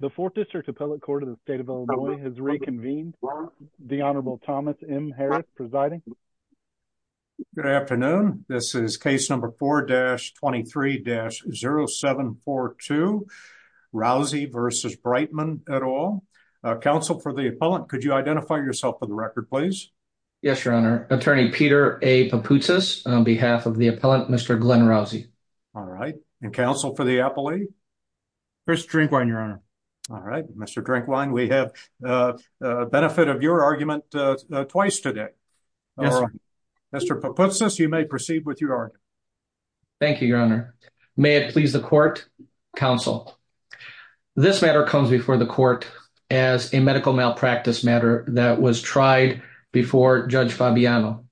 The 4th District Appellate Court of the State of Illinois has reconvened. The Honorable Thomas M. Harris presiding. Good afternoon. This is case number 4-23-0742. Rousey v. Breitman et al. Counsel for the appellant, could you identify yourself for the record, please? Yes, Your Honor. Attorney Peter A. Papoutsas on behalf of the appellant, Mr. Glenn Rousey. All right. And counsel for the appellee? Chris Drinkwine, Your Honor. All right. Mr. Drinkwine, we have the benefit of your argument twice today. Yes, Your Honor. Mr. Papoutsas, you may proceed with your argument. Thank you, Your Honor. May it please the court, counsel. This matter comes before the court as a medical malpractice matter that was tried before Judge Fabiano.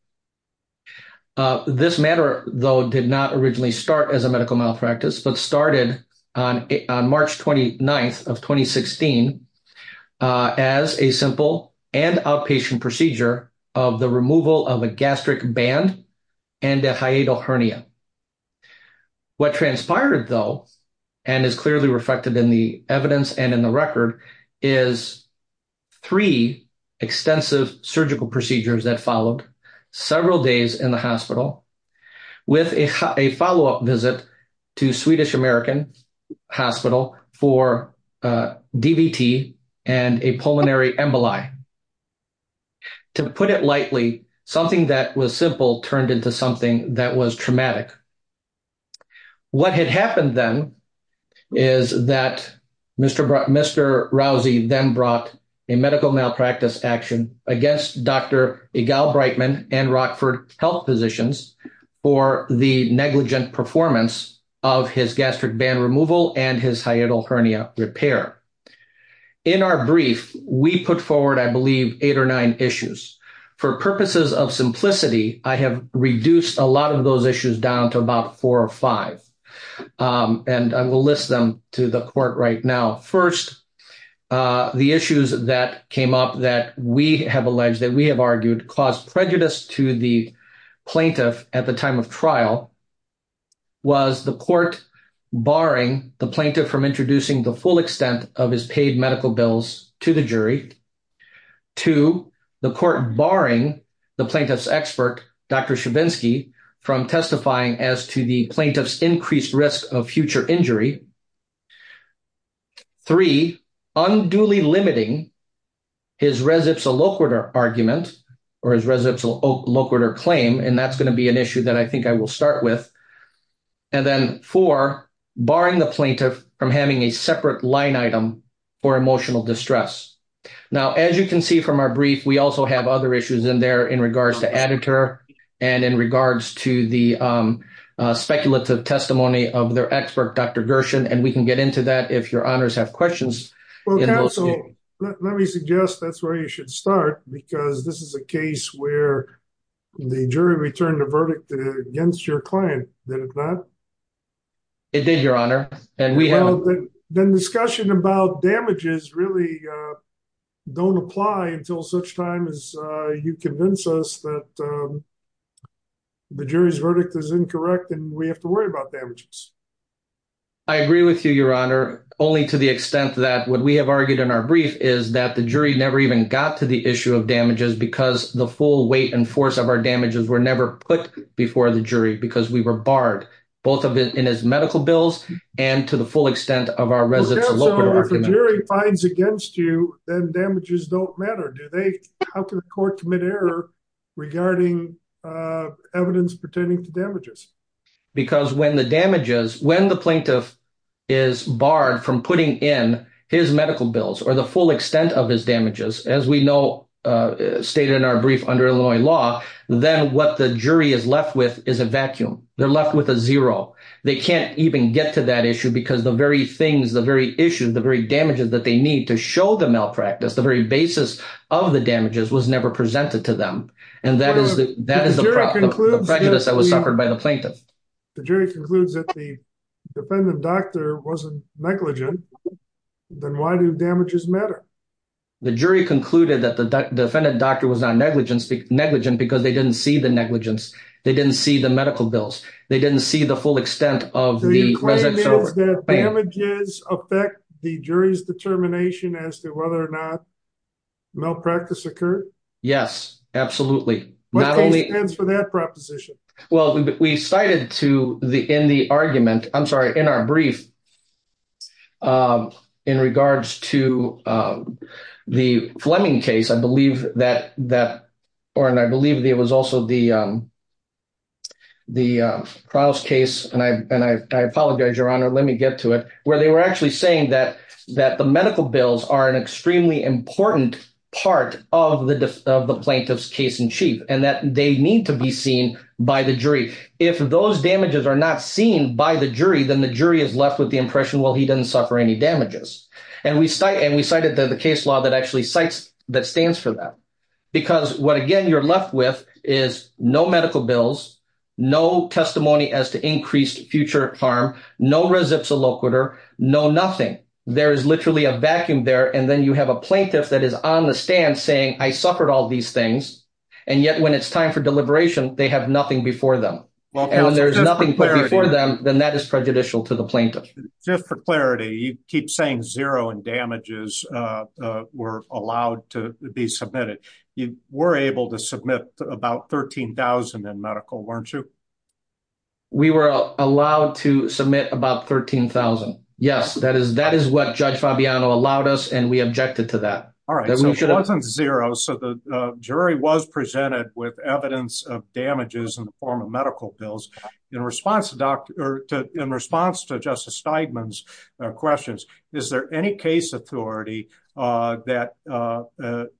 This matter, though, did not originally start as a medical malpractice, but started on March 29th of 2016 as a simple and outpatient procedure of the removal of a gastric band and a hiatal hernia. What transpired, though, and is clearly reflected in the evidence and in the record, is three extensive surgical procedures that followed several days in the hospital with a follow-up visit to Swedish American Hospital for DVT and a pulmonary emboli. To put it lightly, something that was simple turned into something that was traumatic. What had happened then is that Mr. Rousey then brought a medical malpractice action against Dr. Egal Brightman and Rockford Health Physicians for the negligent performance of his gastric band removal and his hiatal hernia repair. In our brief, we put forward, I believe, eight or nine issues. For purposes of simplicity, I have reduced a lot of those issues down to about four or five, and I will list them to the court right now. First, the issues that came up that we have alleged that we have argued caused prejudice to the plaintiff at the time of trial was the court barring the plaintiff from introducing the full extent of his paid medical bills to the jury. Two, the court barring the plaintiff's expert, Dr. Stravinsky, from testifying as to the plaintiff's increased risk of future injury. Three, unduly limiting his res ipsa loquitur argument or his res ipsa loquitur claim, and that's going to be an issue that I think I will start with. And then four, barring the plaintiff from having a separate line item for emotional distress. Now, as you can see from our brief, we also have other issues in there in regards to editor and in regards to the speculative testimony of their expert, Dr. Gershon, and we can get into that if your honors have questions. Let me suggest that's where you should start, because this is a case where the jury returned a verdict against your client. It did, your honor, and we have been discussion about damages really don't apply until such time as you convince us that the jury's verdict is incorrect. And we have to worry about damages. I agree with you, your honor, only to the extent that what we have argued in our brief is that the jury never even got to the issue of damages because the full weight and force of our damages were never put before the jury because we were barred both of it in his medical bills and to the full extent of our residents. If the jury finds against you, then damages don't matter. How can the court commit error regarding evidence pertaining to damages? Because when the damages, when the plaintiff is barred from putting in his medical bills or the full extent of his damages, as we know, stated in our brief under Illinois law, then what the jury is left with is a vacuum. They're left with a zero. They can't even get to that issue because the very things, the very issues, the very damages that they need to show the malpractice, the very basis of the damages was never presented to them. And that is the prejudice that was suffered by the plaintiff. The jury concludes that the defendant doctor wasn't negligent. Then why do damages matter? The jury concluded that the defendant doctor was not negligent because they didn't see the negligence. They didn't see the medical bills. They didn't see the full extent of the damages affect the jury's determination as to whether or not malpractice occurred. Yes, absolutely. Not only for that proposition. Well, we cited to the in the argument, I'm sorry, in our brief in regards to the Fleming case. I believe that that or and I believe there was also the. The trials case and I and I apologize, Your Honor, let me get to it where they were actually saying that that the medical bills are an extremely important part of the plaintiff's case in chief and that they need to be seen by the jury. If those damages are not seen by the jury, then the jury is left with the impression. Well, he didn't suffer any damages and we started and we cited the case law that actually sites that stands for that. Because what again you're left with is no medical bills, no testimony as to increased future harm. No, no, nothing. There is literally a vacuum there. And then you have a plaintiff that is on the stand saying, I suffered all these things. And yet, when it's time for deliberation, they have nothing before them. Well, there's nothing for them, then that is prejudicial to the plaintiff. Just for clarity, you keep saying zero and damages were allowed to be submitted. You were able to submit about 13000 in medical, weren't you? We were allowed to submit about 13000. Yes, that is. That is what Judge Fabiano allowed us. And we objected to that. All right. So it wasn't zero. So the jury was presented with evidence of damages in the form of medical bills. In response to Justice Steinman's questions, is there any case authority that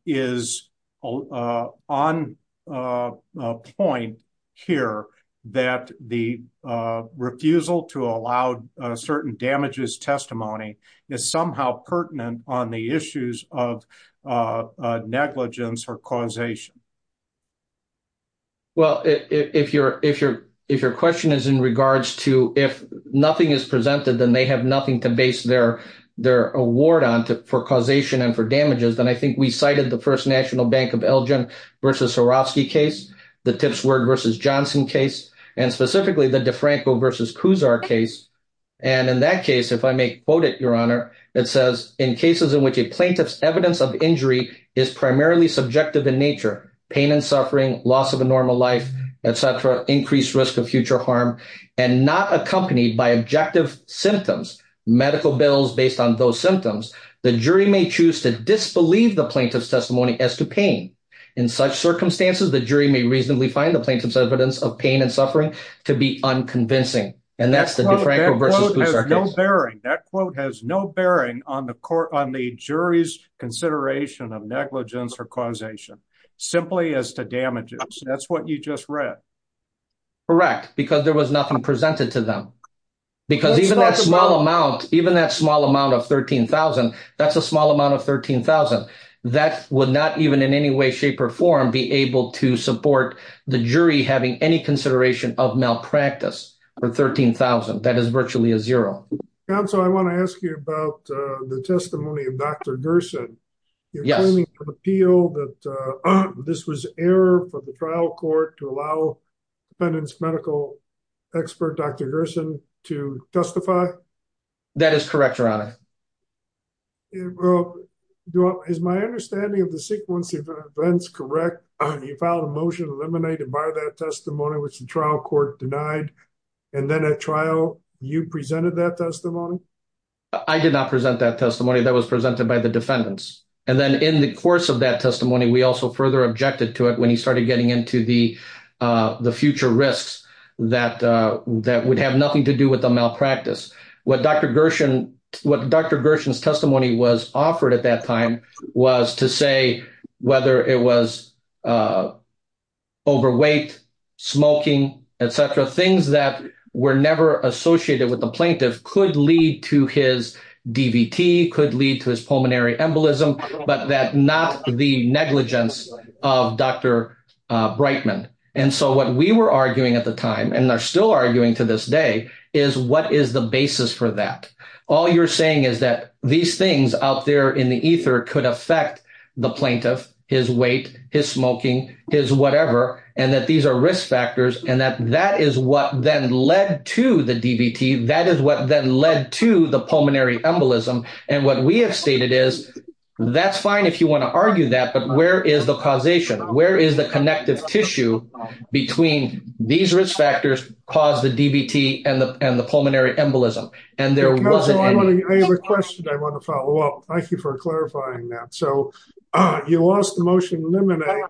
is on point here that the refusal to allow certain damages testimony is somehow pertinent on the issues of negligence or causation? Well, if your question is in regards to if nothing is presented, then they have nothing to base their award on for causation and for damages. And I think we cited the First National Bank of Elgin v. Swarovski case, the Tipsworth v. Johnson case, and specifically the DeFranco v. Kuzar case. And in that case, if I may quote it, Your Honor, it says, In cases in which a plaintiff's evidence of injury is primarily subjective in nature, pain and suffering, loss of a normal life, etc., increased risk of future harm, and not accompanied by objective symptoms, medical bills based on those symptoms, the jury may choose to disbelieve the plaintiff's testimony as to pain. In such circumstances, the jury may reasonably find the plaintiff's evidence of pain and suffering to be unconvincing. And that's the DeFranco v. Kuzar case. That quote has no bearing on the jury's consideration of negligence or causation, simply as to damages. That's what you just read. Correct, because there was nothing presented to them. Because even that small amount, even that small amount of $13,000, that's a small amount of $13,000. That would not even in any way, shape, or form be able to support the jury having any consideration of malpractice for $13,000. That is virtually a zero. Counsel, I want to ask you about the testimony of Dr. Gerson. You're claiming from appeal that this was error for the trial court to allow defendant's medical expert, Dr. Gerson, to testify? That is correct, Your Honor. Well, is my understanding of the sequence of events correct? You filed a motion eliminated by that testimony, which the trial court denied. And then at trial, you presented that testimony? I did not present that testimony. That was presented by the defendants. And then in the course of that testimony, we also further objected to it when he started getting into the future risks that would have nothing to do with the malpractice. What Dr. Gerson's testimony was offered at that time was to say whether it was overweight, smoking, etc. Things that were never associated with the plaintiff could lead to his DVT, could lead to his pulmonary embolism, but that not the negligence of Dr. Brightman. And so what we were arguing at the time, and they're still arguing to this day, is what is the basis for that? All you're saying is that these things out there in the ether could affect the plaintiff, his weight, his smoking, his whatever, and that these are risk factors. And that that is what then led to the DVT. That is what then led to the pulmonary embolism. And what we have stated is, that's fine if you want to argue that, but where is the causation? Where is the connective tissue between these risk factors cause the DVT and the pulmonary embolism? And there wasn't any... Counselor, I have a question I want to follow up. Thank you for clarifying that. So you lost the motion to eliminate,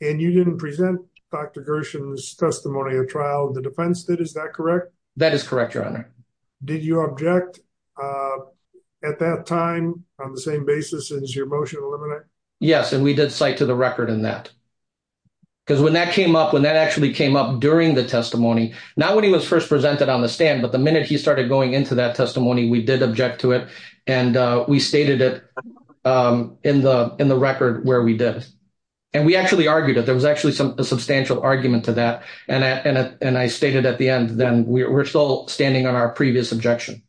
and you didn't present Dr. Gerson's testimony at trial. The defense did, is that correct? That is correct, Your Honor. Did you object at that time on the same basis as your motion to eliminate? Yes, and we did cite to the record in that. Because when that came up, when that actually came up during the testimony, not when he was first presented on the stand, but the minute he started going into that testimony, we did object to it. And we stated it in the record where we did. And we actually argued it. There was actually a substantial argument to that. And I stated at the end, then we're still standing on our previous objection.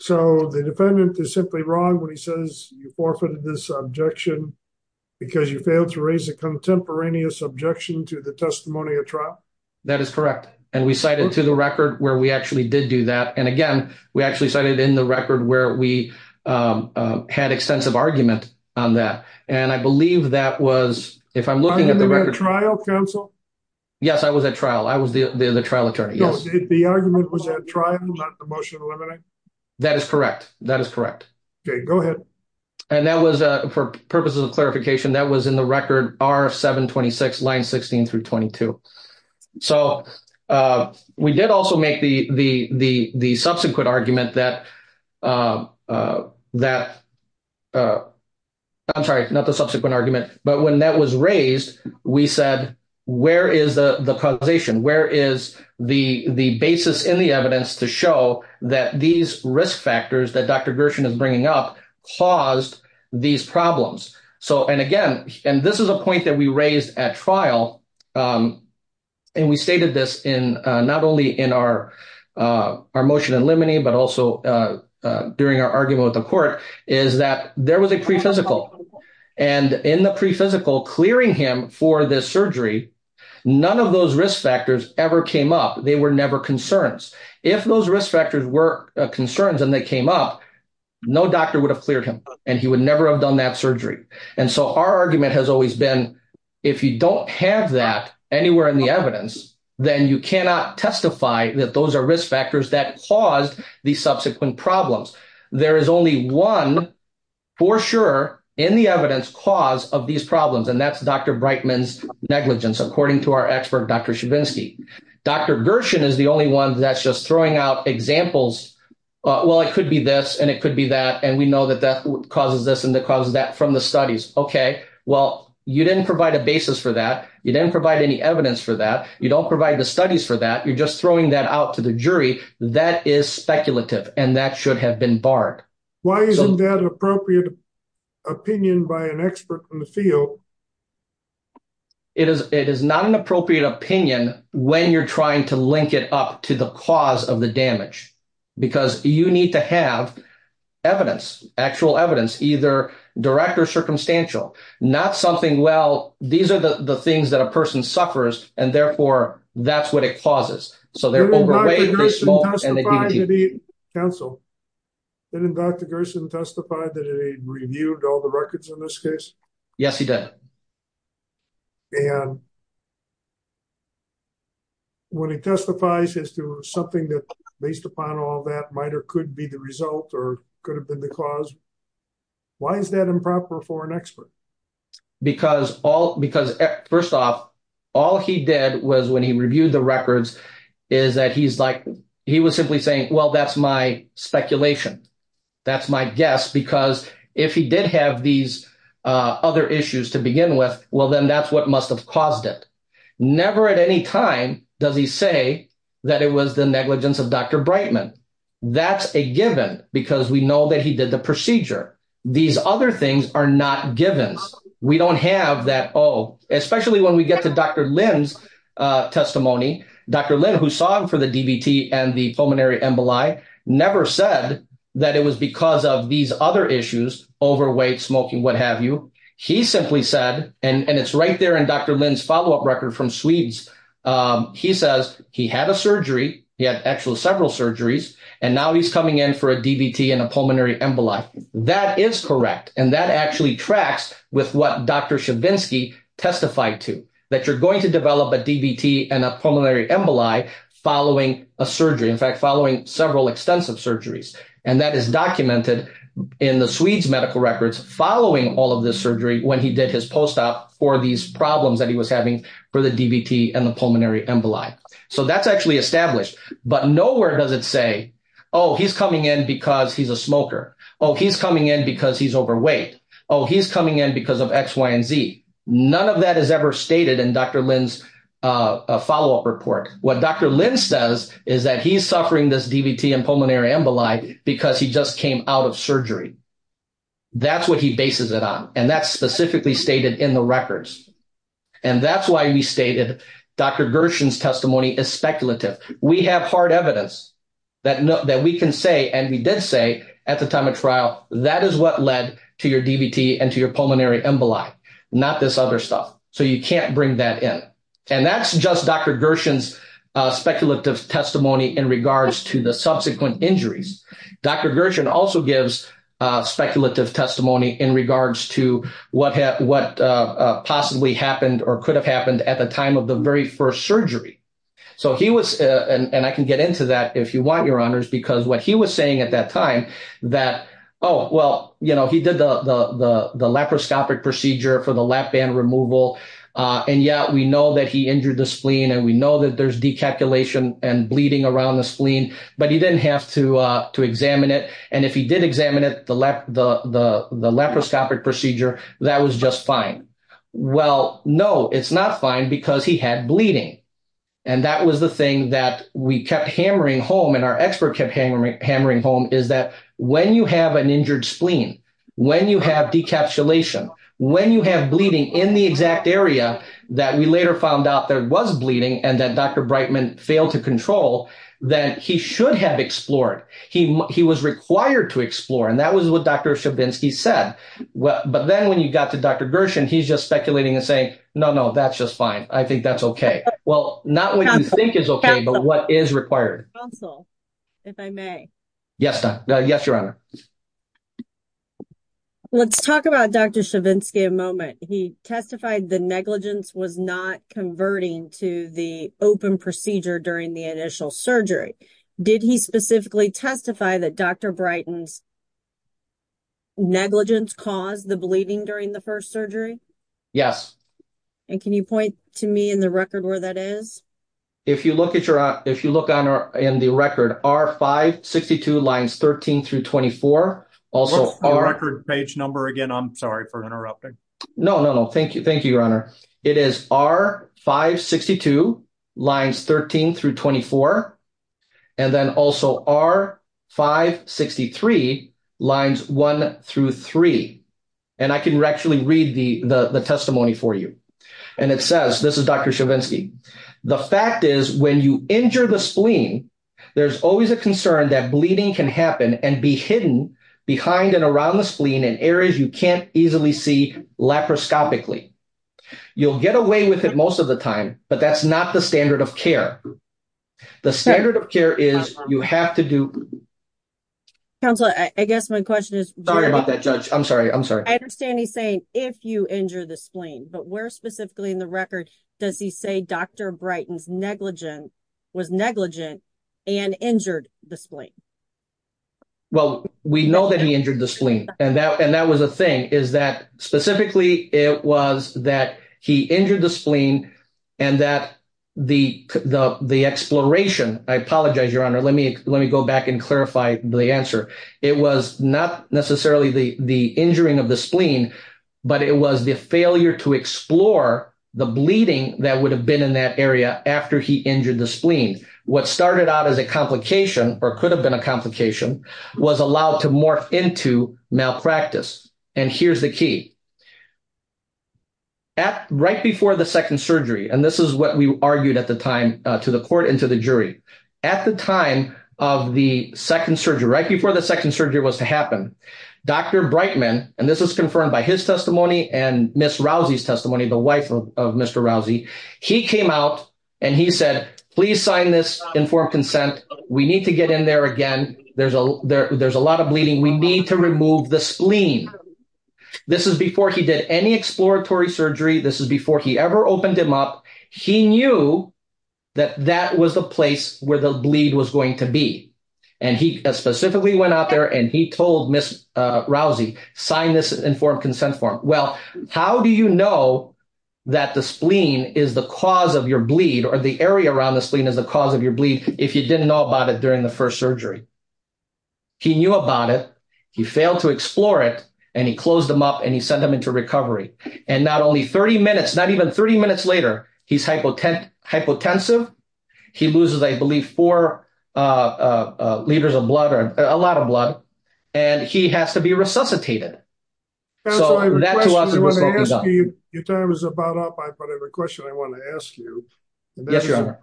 So the defendant is simply wrong when he says you forfeited this objection because you failed to raise a contemporaneous objection to the testimony at trial? That is correct. And we cited to the record where we actually did do that. And again, we actually cited in the record where we had extensive argument on that. And I believe that was, if I'm looking at the record trial counsel. Yes, I was at trial. I was the trial attorney. Yes. The argument was that trial motion. That is correct. That is correct. Go ahead. And that was for purposes of clarification that was in the record are 726 line 16 through 22. So we did also make the subsequent argument that that. I'm sorry, not the subsequent argument, but when that was raised, we said, where is the causation? Where is the basis in the evidence to show that these risk factors that Dr. Gershon is bringing up caused these problems? So, and again, and this is a point that we raised at trial. And we stated this in not only in our, our motion and limiting but also during our argument with the court is that there was a pre physical and in the pre physical clearing him for this surgery. None of those risk factors ever came up. They were never concerns. If those risk factors were concerns and they came up, no doctor would have cleared him and he would never have done that surgery. And so our argument has always been, if you don't have that anywhere in the evidence, then you cannot testify that those are risk factors that caused the subsequent problems. There is only one for sure in the evidence cause of these problems. And that's Dr. Brightman's negligence. According to our expert, Dr. Shabinsky, Dr. Gershon is the only one that's just throwing out examples. Well, it could be this and it could be that. And we know that that causes this and that causes that from the studies. Okay. Well, you didn't provide a basis for that. You didn't provide any evidence for that. You don't provide the studies for that. You're just throwing that out to the jury. That is speculative and that should have been barred. Why isn't that appropriate opinion by an expert from the field? It is. It is not an appropriate opinion when you're trying to link it up to the cause of the damage, because you need to have evidence, actual evidence, either direct or circumstantial, not something. Well, these are the things that a person suffers, and therefore, that's what it causes. Didn't Dr. Gershon testify that he reviewed all the records in this case? Yes, he did. And when he testifies as to something that based upon all that might or could be the result or could have been the cause, why is that improper for an expert? Because first off, all he did was when he reviewed the records is that he was simply saying, well, that's my speculation. That's my guess, because if he did have these other issues to begin with, well, then that's what must have caused it. Never at any time does he say that it was the negligence of Dr. Brightman. That's a given because we know that he did the procedure. These other things are not given. We don't have that. Oh, especially when we get to Dr. Lynn's testimony, Dr. Lynn, who saw him for the DVT and the pulmonary emboli, never said that it was because of these other issues, overweight, smoking, what have you. He simply said, and it's right there in Dr. Lynn's follow up record from Swedes. He says he had a surgery. He had actually several surgeries. And now he's coming in for a DVT and a pulmonary emboli. That is correct. And that actually tracks with what Dr. Shavinsky testified to, that you're going to develop a DVT and a pulmonary emboli following a surgery. In fact, following several extensive surgeries. And that is documented in the Swedes medical records following all of this surgery when he did his post-op for these problems that he was having for the DVT and the pulmonary emboli. So that's actually established. But nowhere does it say, oh, he's coming in because he's a smoker. Oh, he's coming in because he's overweight. Oh, he's coming in because of X, Y, and Z. None of that is ever stated in Dr. Lynn's follow up report. What Dr. Lynn says is that he's suffering this DVT and pulmonary emboli because he just came out of surgery. That's what he bases it on. And that's specifically stated in the records. And that's why we stated Dr. Gershon's testimony is speculative. We have hard evidence that we can say, and we did say at the time of trial, that is what led to your DVT and to your pulmonary emboli, not this other stuff. So you can't bring that in. And that's just Dr. Gershon's speculative testimony in regards to the subsequent injuries. Dr. Gershon also gives speculative testimony in regards to what possibly happened or could have happened at the time of the very first surgery. And I can get into that if you want, Your Honors, because what he was saying at that time that, oh, well, he did the laparoscopic procedure for the lap band removal. And yeah, we know that he injured the spleen and we know that there's decalculation and bleeding around the spleen, but he didn't have to examine it. And if he did examine it, the laparoscopic procedure, that was just fine. Well, no, it's not fine because he had bleeding. And that was the thing that we kept hammering home and our expert kept hammering home is that when you have an injured spleen, when you have decapsulation, when you have bleeding in the exact area that we later found out there was bleeding and that Dr. Brightman failed to control, then he should have explored. He was required to explore. And that was what Dr. Shabinsky said. But then when you got to Dr. Gershon, he's just speculating and saying, no, no, that's just fine. I think that's okay. Well, not what you think is okay, but what is required. Also, if I may. Yes. Yes, Your Honor. Let's talk about Dr. Shabinsky a moment. He testified the negligence was not converting to the open procedure during the initial surgery. Did he specifically testify that Dr. Brighton's negligence caused the bleeding during the first surgery? Yes. And can you point to me in the record where that is? If you look in the record, R562 lines 13 through 24. What's the record page number again? I'm sorry for interrupting. No, no, no. Thank you. Thank you, Your Honor. It is R562 lines 13 through 24. And then also R563 lines one through three. And I can actually read the testimony for you. And it says, this is Dr. Shabinsky. The fact is, when you injure the spleen, there's always a concern that bleeding can happen and be hidden behind and around the spleen in areas you can't easily see laparoscopically. You'll get away with it most of the time, but that's not the standard of care. The standard of care is you have to do. Counselor, I guess my question is. Sorry about that, Judge. I'm sorry. I'm sorry. I understand he's saying, if you injure the spleen, but where specifically in the record, does he say Dr. Brighton's negligence was negligent and injured the spleen? Well, we know that he injured the spleen, and that was a thing. Specifically, it was that he injured the spleen and that the exploration, I apologize, Your Honor, let me go back and clarify the answer. It was not necessarily the injuring of the spleen, but it was the failure to explore the bleeding that would have been in that area after he injured the spleen. What started out as a complication or could have been a complication was allowed to morph into malpractice. And here's the key. At right before the second surgery, and this is what we argued at the time to the court and to the jury at the time of the second surgery, right before the second surgery was to happen. Dr. Brightman, and this was confirmed by his testimony and Ms. Rousey's testimony, the wife of Mr. Rousey, he came out and he said, please sign this informed consent. We need to get in there again. There's a lot of bleeding. We need to remove the spleen. This is before he did any exploratory surgery. This is before he ever opened him up. He knew that that was the place where the bleed was going to be. And he specifically went out there and he told Ms. Rousey, sign this informed consent form. Well, how do you know that the spleen is the cause of your bleed or the area around the spleen is the cause of your bleed if you didn't know about it during the first surgery? He knew about it. He failed to explore it and he closed them up and he sent them into recovery. And not only 30 minutes, not even 30 minutes later, he's hypotensive. He loses, I believe, four liters of blood or a lot of blood and he has to be resuscitated. Your time is about up, but I have a question I want to ask you. Yes, Your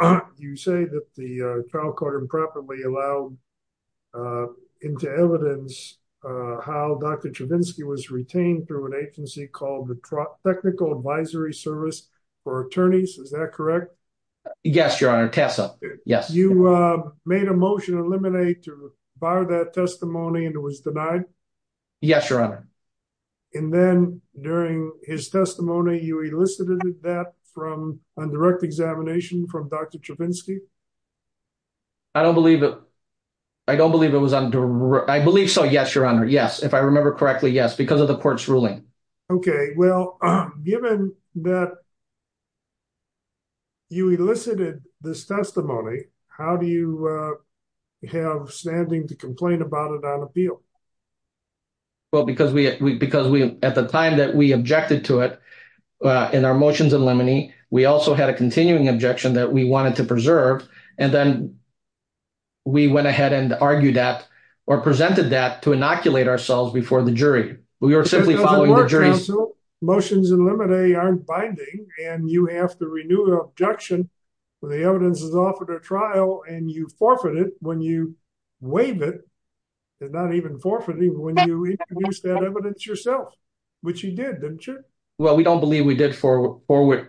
Honor. You say that the trial court improperly allowed into evidence how Dr. Chavinsky was retained through an agency called the Technical Advisory Service for Attorneys. Is that correct? Yes, Your Honor. Tessa. Yes. You made a motion to eliminate to fire that testimony and it was denied? Yes, Your Honor. And then during his testimony, you elicited that from a direct examination from Dr. Chavinsky? I don't believe it. I don't believe it was under. I believe so. Yes, Your Honor. Yes. If I remember correctly, yes, because of the court's ruling. Okay. Well, given that you elicited this testimony, how do you have standing to complain about it on appeal? Well, because we at the time that we objected to it in our motions in limine, we also had a continuing objection that we wanted to preserve. And then we went ahead and argued that or presented that to inoculate ourselves before the jury. We were simply following the jury's... Because of the court's counsel, motions in limine aren't binding and you have to renew the objection when the evidence is offered at trial and you forfeit it when you waive it. It's not even forfeiting when you introduce that evidence yourself, which you did, didn't you? Well, we don't believe we did forfeit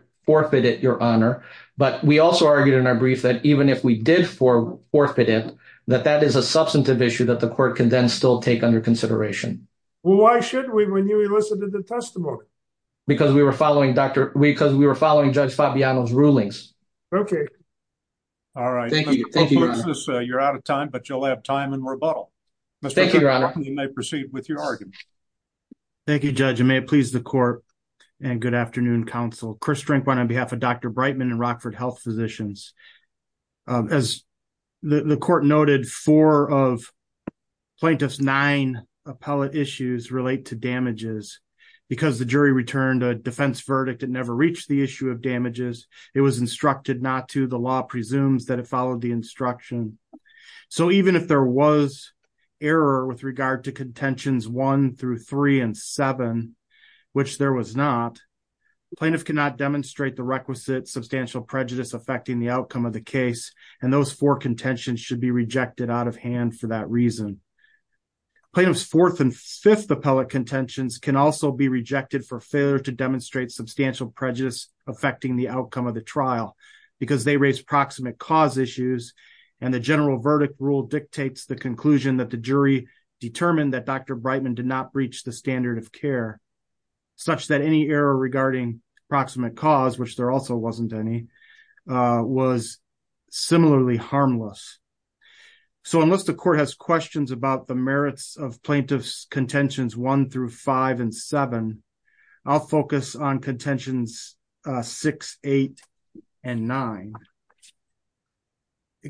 it, Your Honor. But we also argued in our brief that even if we did forfeit it, that that is a substantive issue that the court can then still take under consideration. Well, why should we when you elicited the testimony? Because we were following Judge Fabiano's rulings. Okay. All right. Thank you, Your Honor. You're out of time, but you'll have time in rebuttal. Thank you, Your Honor. You may proceed with your argument. Thank you, Judge, and may it please the court and good afternoon, counsel. Chris Strinkwein on behalf of Dr. Breitman and Rockford Health Physicians. As the court noted, four of plaintiff's nine appellate issues relate to damages. Because the jury returned a defense verdict, it never reached the issue of damages. It was instructed not to. The law presumes that it followed the instruction. So even if there was error with regard to contentions one through three and seven, which there was not, plaintiff cannot demonstrate the requisite substantial prejudice affecting the outcome of the case. And those four contentions should be rejected out of hand for that reason. Plaintiff's fourth and fifth appellate contentions can also be rejected for failure to demonstrate substantial prejudice affecting the outcome of the trial. Because they raise proximate cause issues, and the general verdict rule dictates the conclusion that the jury determined that Dr. Breitman did not breach the standard of care. Such that any error regarding proximate cause, which there also wasn't any, was similarly harmless. So unless the court has questions about the merits of plaintiff's contentions one through five and seven, I'll focus on contentions six, eight, and nine.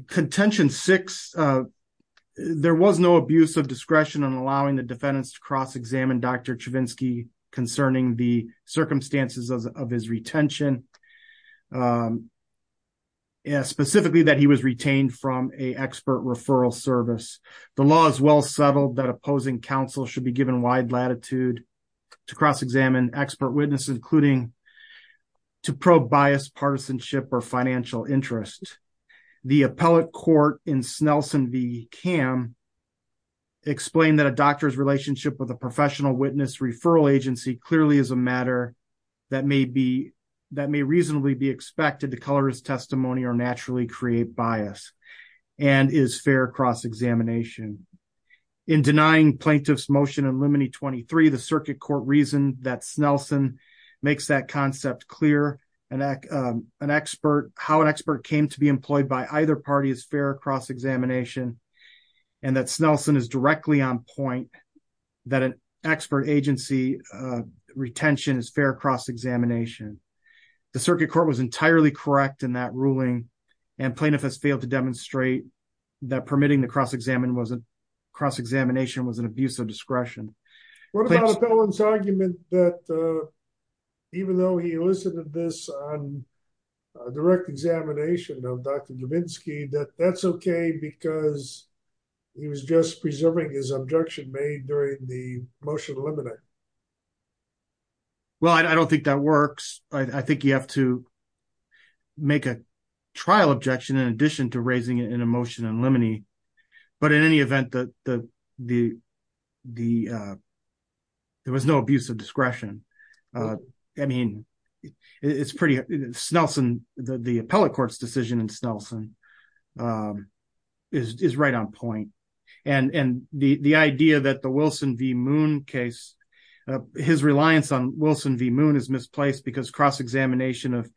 Contention six, there was no abuse of discretion in allowing the defendants to cross-examine Dr. Chavinsky concerning the circumstances of his retention. Specifically that he was retained from a expert referral service. The law is well settled that opposing counsel should be given wide latitude to cross-examine expert witnesses, including to probe bias, partisanship, or financial interest. The appellate court in Snelson v. Cam explained that a doctor's relationship with a professional witness referral agency clearly is a matter that may reasonably be expected to color his testimony or naturally create bias, and is fair cross-examination. In denying plaintiff's motion in Lumine 23, the circuit court reasoned that Snelson makes that concept clear. How an expert came to be employed by either party is fair cross-examination, and that Snelson is directly on point that an expert agency retention is fair cross-examination. The circuit court was entirely correct in that ruling, and plaintiff has failed to demonstrate that permitting the cross-examination was an abuse of discretion. What about O'Connor's argument that even though he elicited this on direct examination of Dr. Chavinsky, that that's okay because he was just preserving his objection made during the motion to eliminate? Well, I don't think that works. I think you have to make a trial objection in addition to raising an emotion in Lumine, but in any event, there was no abuse of discretion. I mean, the appellate court's decision in Snelson is right on point, and the idea that the Wilson v. Moon case, his reliance on Wilson v. Moon is misplaced because cross-examination of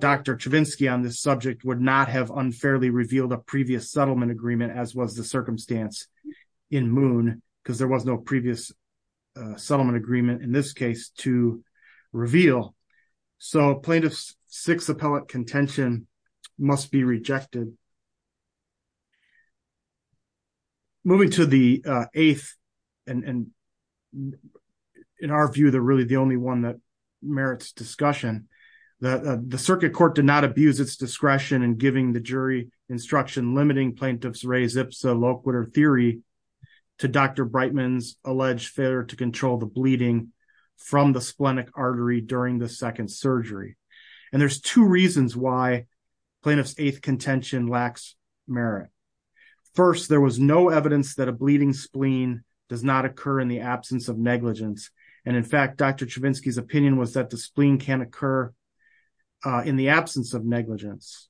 Dr. Chavinsky on this subject would not have unfairly revealed a previous settlement agreement as was the circumstance in Moon, because there was no previous settlement agreement. In this case to reveal, so plaintiff's six appellate contention must be rejected. Moving to the eighth, and in our view, they're really the only one that merits discussion. The circuit court did not abuse its discretion in giving the jury instruction limiting plaintiff's res ipsa loquitur theory to Dr. Breitman's alleged failure to control the bleeding from the splenic artery during the second surgery. And there's two reasons why plaintiff's eighth contention lacks merit. First, there was no evidence that a bleeding spleen does not occur in the absence of negligence. And in fact, Dr. Chavinsky's opinion was that the spleen can occur in the absence of negligence.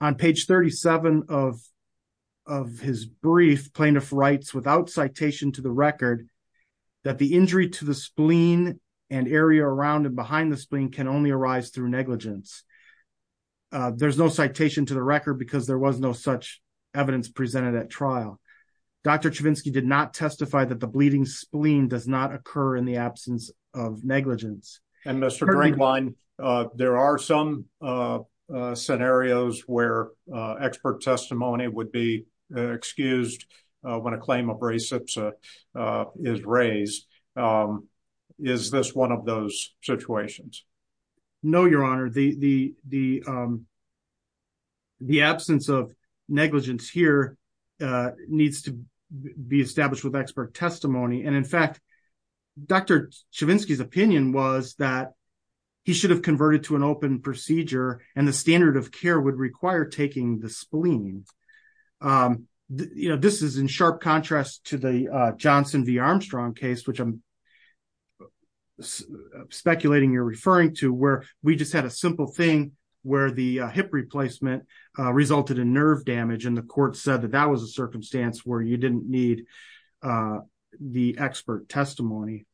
On page 37 of his brief, plaintiff writes without citation to the record that the injury to the spleen and area around and behind the spleen can only arise through negligence. There's no citation to the record because there was no such evidence presented at trial. Dr. Chavinsky did not testify that the bleeding spleen does not occur in the absence of negligence. And Mr. Greenblatt, there are some scenarios where expert testimony would be excused when a claim of res ipsa is raised. Is this one of those situations? No, Your Honor. The absence of negligence here needs to be established with expert testimony. And in fact, Dr. Chavinsky's opinion was that he should have converted to an open procedure and the standard of care would require taking the spleen. This is in sharp contrast to the Johnson v. Armstrong case, which I'm speculating you're referring to, where we just had a simple thing where the hip replacement resulted in nerve damage and the court said that that was a circumstance where you didn't need the expert testimony.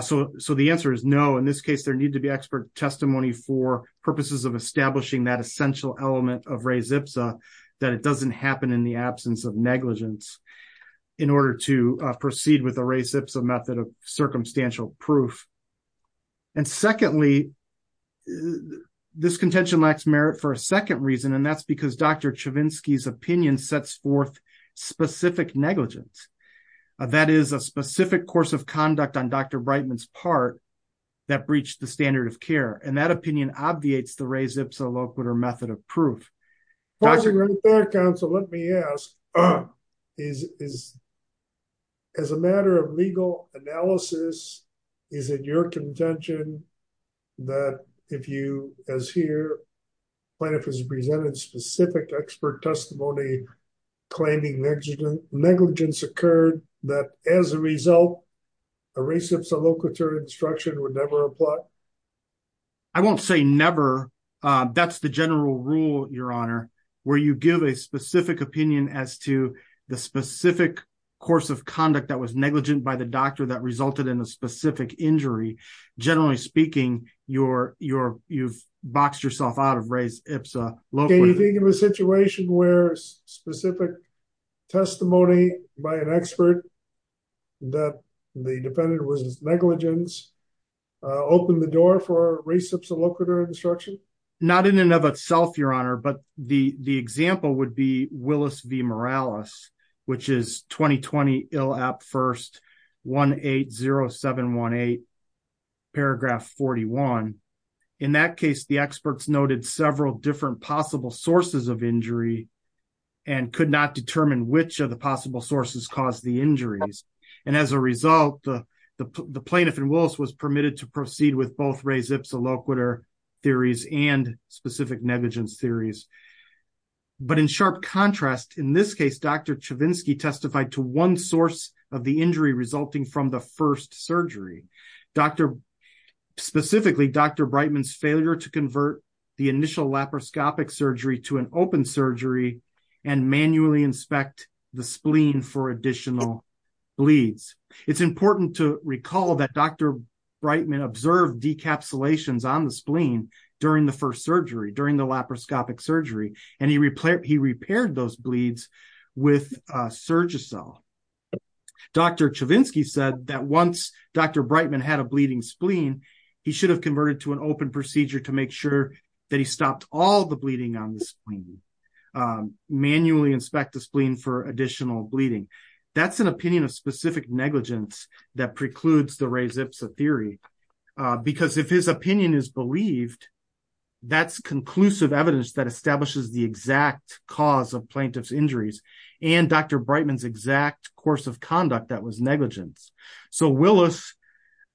So the answer is no. In this case, there needs to be expert testimony for purposes of establishing that essential element of res ipsa, that it doesn't happen in the absence of negligence in order to proceed with the res ipsa method of circumstantial proof. And secondly, this contention lacks merit for a second reason, and that's because Dr. Chavinsky's opinion sets forth specific negligence. That is a specific course of conduct on Dr. Brightman's part that breached the standard of care and that opinion obviates the res ipsa loquitur method of proof. As a matter of legal analysis, is it your contention that if you, as here, plaintiff has presented specific expert testimony claiming negligence occurred, that as a result, a res ipsa loquitur instruction would never apply? I won't say never. That's the general rule, Your Honor, where you give a specific opinion as to the specific course of conduct that was negligent by the doctor that resulted in a specific injury. Generally speaking, you've boxed yourself out of res ipsa loquitur. Can you think of a situation where specific testimony by an expert that the defendant was negligent opened the door for res ipsa loquitur instruction? Not in and of itself, Your Honor, but the example would be Willis v. Morales, which is 2020 ILAP 1st 180718 paragraph 41. In that case, the experts noted several different possible sources of injury and could not determine which of the possible sources caused the injuries. And as a result, the plaintiff in Willis was permitted to proceed with both res ipsa loquitur theories and specific negligence theories. But in sharp contrast, in this case, Dr. Chavinsky testified to one source of the injury resulting from the first surgery. Specifically, Dr. Breitman's failure to convert the initial laparoscopic surgery to an open surgery and manually inspect the spleen for additional bleeds. It's important to recall that Dr. Breitman observed decapsulations on the spleen during the first surgery, during the laparoscopic surgery, and he repaired those bleeds with Surgicel. Dr. Chavinsky said that once Dr. Breitman had a bleeding spleen, he should have converted to an open procedure to make sure that he stopped all the bleeding on the spleen. Manually inspect the spleen for additional bleeding. That's an opinion of specific negligence that precludes the res ipsa theory. Because if his opinion is believed, that's conclusive evidence that establishes the exact cause of plaintiff's injuries and Dr. Breitman's exact course of conduct that was negligence. Willis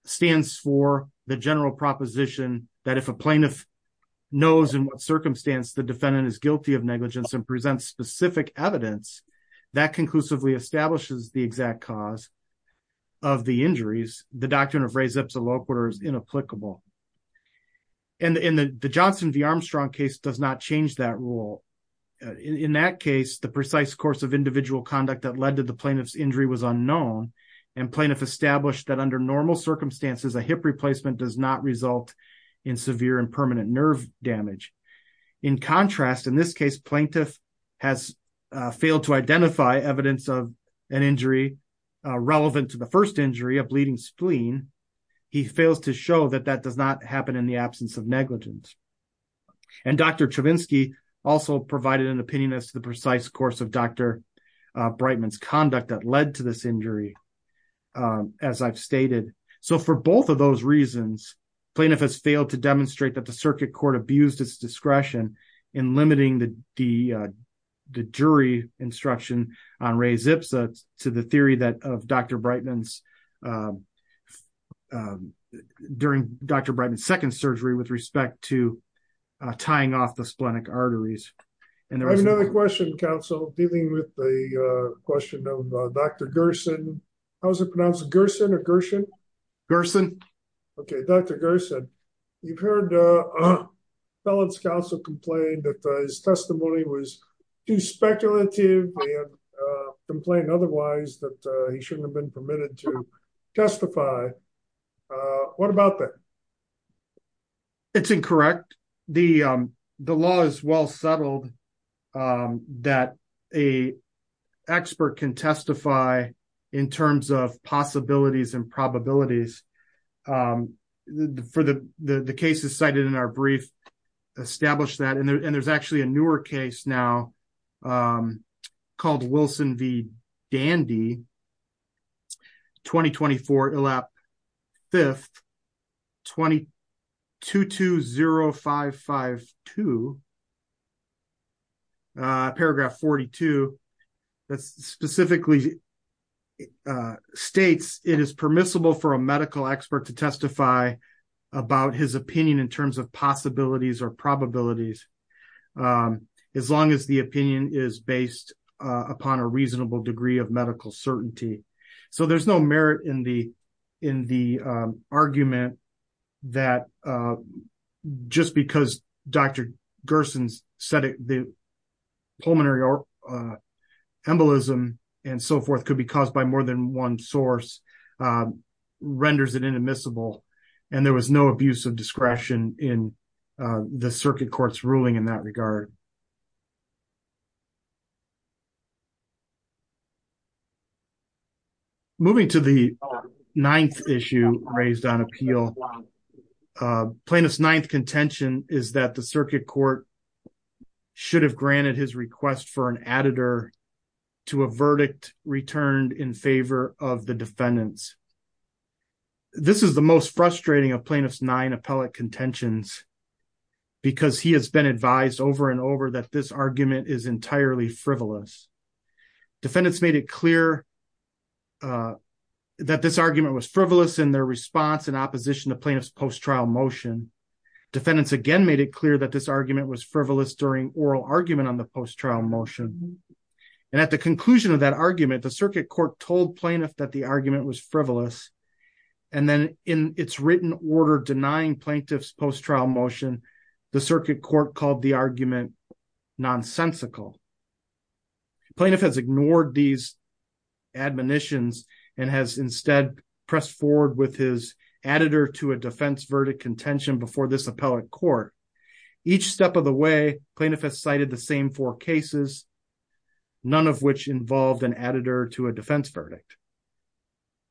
stands for the general proposition that if a plaintiff knows in what circumstance the defendant is guilty of negligence and presents specific evidence, that conclusively establishes the exact cause of the injuries, the doctrine of res ipsa loquitur is inapplicable. And the Johnson v. Armstrong case does not change that rule. In that case, the precise course of individual conduct that led to the plaintiff's injury was unknown, and plaintiff established that under normal circumstances, a hip replacement does not result in severe and permanent nerve damage. In contrast, in this case, plaintiff has failed to identify evidence of an injury relevant to the first injury, a bleeding spleen. He fails to show that that does not happen in the absence of negligence. And Dr. Chavinsky also provided an opinion as to the precise course of Dr. Breitman's conduct that led to this injury, as I've stated. So for both of those reasons, plaintiff has failed to demonstrate that the circuit court abused its discretion in limiting the jury instruction on res ipsa to the theory that of Dr. Breitman's During Dr. Breitman's second surgery with respect to tying off the splenic arteries. I have another question, counsel, dealing with the question of Dr. Gerson. How's it pronounced? Gerson or Gershon? Gerson. Okay, Dr. Gerson. You've heard a felon's counsel complained that his testimony was too speculative and complained otherwise that he shouldn't have been permitted to testify. What about that? It's incorrect. The law is well settled that a expert can testify in terms of possibilities and probabilities. For the cases cited in our brief established that and there's actually a newer case now called Wilson v. Dandy. 2024 elap 5th 2220552 paragraph 42 that specifically states it is permissible for a medical expert to testify about his opinion in terms of possibilities or probabilities. As long as the opinion is based upon a reasonable degree of medical certainty. So there's no merit in the in the argument that just because Dr. Gerson's said the pulmonary embolism and so forth could be caused by more than one source. So I think it's fair to say that there was no abuse of discretion in the circuit court's ruling in that regard. Moving to the 9th issue raised on appeal plaintiff's 9th contention is that the circuit court should have granted his request for an editor to a verdict returned in favor of the defendants. This is the most frustrating of plaintiff's nine appellate contentions because he has been advised over and over that this argument is entirely frivolous defendants made it clear that this argument was frivolous in their response and opposition to plaintiff's post trial motion defendants again made it clear that this argument was frivolous during oral argument on the post trial motion. And at the conclusion of that argument the circuit court told plaintiff that the argument was frivolous and then in its written order denying plaintiff's post trial motion the circuit court called the argument nonsensical plaintiff has ignored these admonitions and has instead pressed forward with his editor to a defense verdict contention before this appellate court. Each step of the way plaintiff has cited the same four cases, none of which involved an editor to a defense verdict.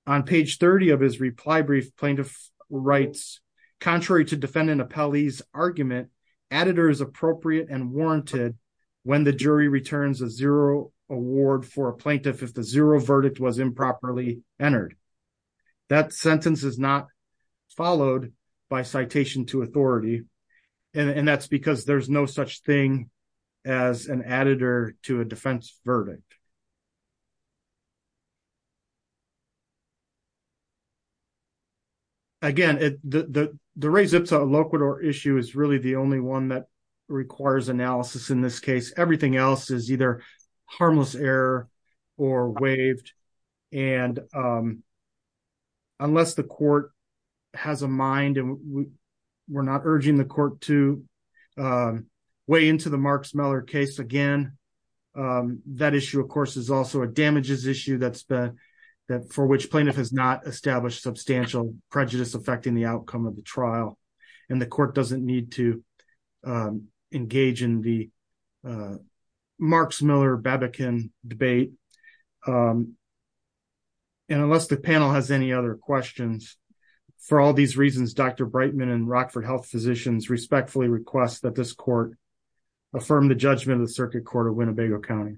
On page 30 of his reply brief plaintiff writes contrary to defendant appellee's argument editors appropriate and warranted when the jury returns a zero award for a plaintiff if the zero verdict was improperly entered. That sentence is not followed by citation to authority and that's because there's no such thing as an editor to a defense verdict. Again, it, the, the, the raised up so loquitur issue is really the only one that requires analysis in this case everything else is either harmless error or waived and unless the court has a mind and we're not urging the court to weigh into the marks Miller case again. That issue, of course, is also a damages issue that's been that for which plaintiff has not established substantial prejudice affecting the outcome of the trial and the court doesn't need to engage in the marks Miller Babak in debate. And unless the panel has any other questions. For all these reasons, Dr. Brightman and Rockford health physicians respectfully request that this court affirm the judgment of the circuit court of Winnebago County.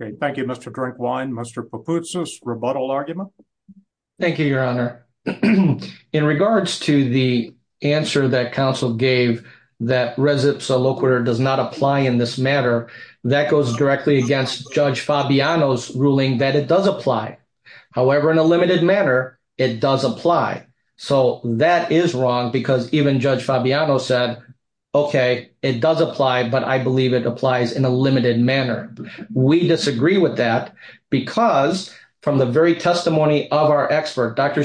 Okay, thank you, Mr drink wine, Mr purposes rebuttal argument. Thank you, Your Honor. In regards to the answer that counsel gave that residents a low quarter does not apply in this matter that goes directly against judge Fabiano's ruling that it does apply. However, in a limited manner, it does apply. So that is wrong because even judge Fabiano said, Okay, it does apply, but I believe it applies in a limited manner. We disagree with that because from the very testimony of our expert, Dr.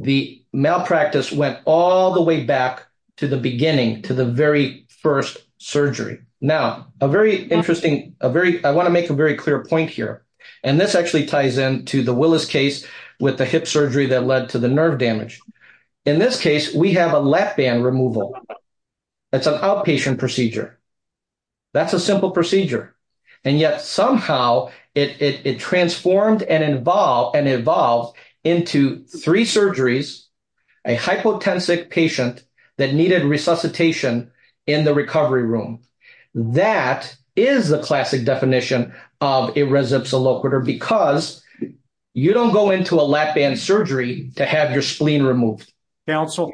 The malpractice went all the way back to the beginning to the very first surgery. Now, a very interesting, a very, I want to make a very clear point here. And this actually ties into the Willis case with the hip surgery that led to the nerve damage. In this case, we have a left band removal. That's an outpatient procedure. That's a simple procedure. And yet, somehow, it transformed and involved and evolved into three surgeries, a hypotensive patient that needed resuscitation in the recovery room. That is the classic definition of a residence a low quarter because you don't go into a lap band surgery to have your spleen removed. Counsel,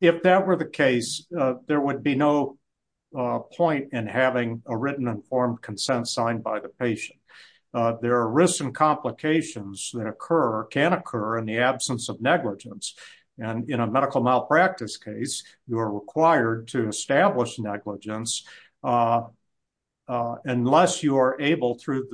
if that were the case, there would be no point in having a written informed consent signed by the patient. There are risks and complications that occur can occur in the absence of negligence and in a medical malpractice case, you are required to establish negligence. Unless you are able, through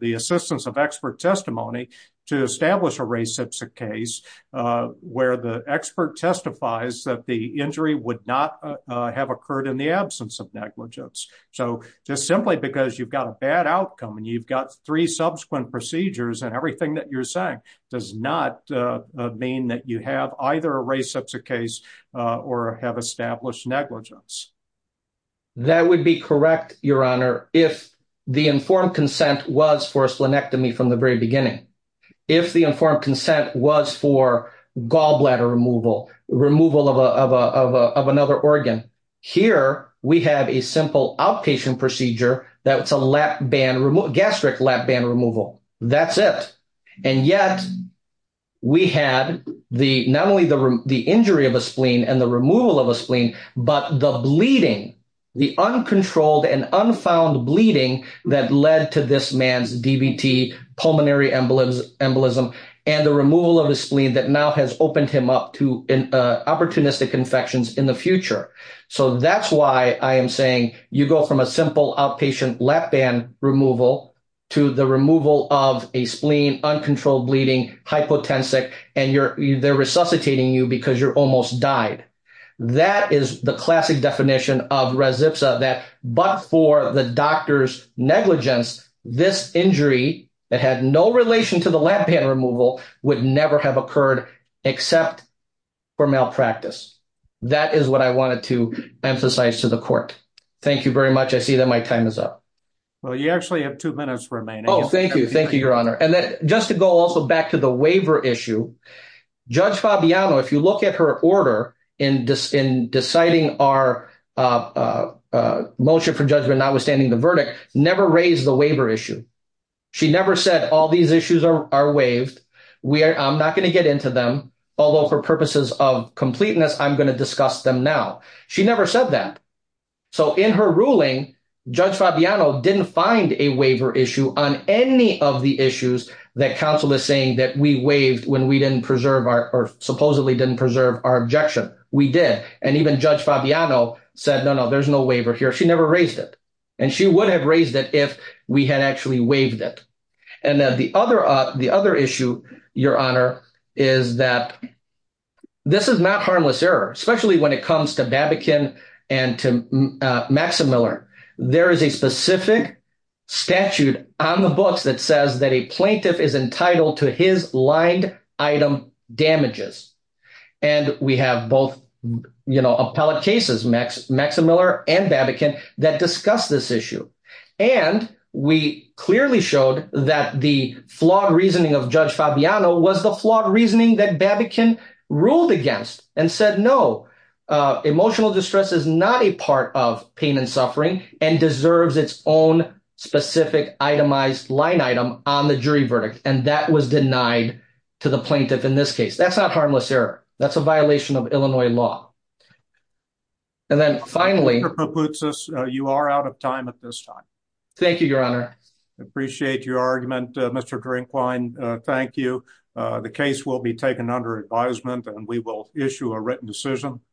the assistance of expert testimony, to establish a reciprocal case where the expert testifies that the injury would not have occurred in the absence of negligence. So, just simply because you've got a bad outcome and you've got three subsequent procedures and everything that you're saying does not mean that you have either a reciprocal case or have established negligence. That would be correct, Your Honor, if the informed consent was for a splenectomy from the very beginning. If the informed consent was for gallbladder removal, removal of another organ. Here, we have a simple outpatient procedure that's a gastric lap band removal. That's it. And yet, we had not only the injury of a spleen and the removal of a spleen, but the bleeding, the uncontrolled and unfound bleeding that led to this man's DBT pulmonary embolism and the removal of a spleen that now has opened him up to opportunistic infections in the future. So, that's why I am saying you go from a simple outpatient lap band removal to the removal of a spleen, uncontrolled bleeding, hypotensic, and they're resuscitating you because you're almost died. That is the classic definition of res ipsa that but for the doctor's negligence, this injury that had no relation to the lap band removal would never have occurred except for malpractice. That is what I wanted to emphasize to the court. Thank you very much. I see that my time is up. Well, you actually have two minutes remaining. Oh, thank you. Thank you, Your Honor. And just to go also back to the waiver issue, Judge Fabiano, if you look at her order in deciding our motion for judgment, notwithstanding the verdict, never raised the waiver issue. She never said all these issues are waived. I'm not going to get into them, although for purposes of completeness, I'm going to discuss them now. She never said that. So, in her ruling, Judge Fabiano didn't find a waiver issue on any of the issues that counsel is saying that we waived when we didn't preserve our or supposedly didn't preserve our objection. We did. And even Judge Fabiano said, no, no, there's no waiver here. She never raised it. And she would have raised it if we had actually waived it. And the other issue, Your Honor, is that this is not harmless error, especially when it comes to Babakin and to Maximiller. There is a specific statute on the books that says that a plaintiff is entitled to his lined item damages. And we have both, you know, appellate cases, Maximiller and Babakin, that discuss this issue. And we clearly showed that the flawed reasoning of Judge Fabiano was the flawed reasoning that Babakin ruled against and said, no, emotional distress is not a part of pain and suffering and deserves its own specific itemized line item on the jury verdict. And that was denied to the plaintiff in this case. That's not harmless error. That's a violation of Illinois law. And then finally, you are out of time at this time. Thank you, Your Honor. Appreciate your argument, Mr. Drinkwine. Thank you. The case will be taken under advisement and we will issue a written decision.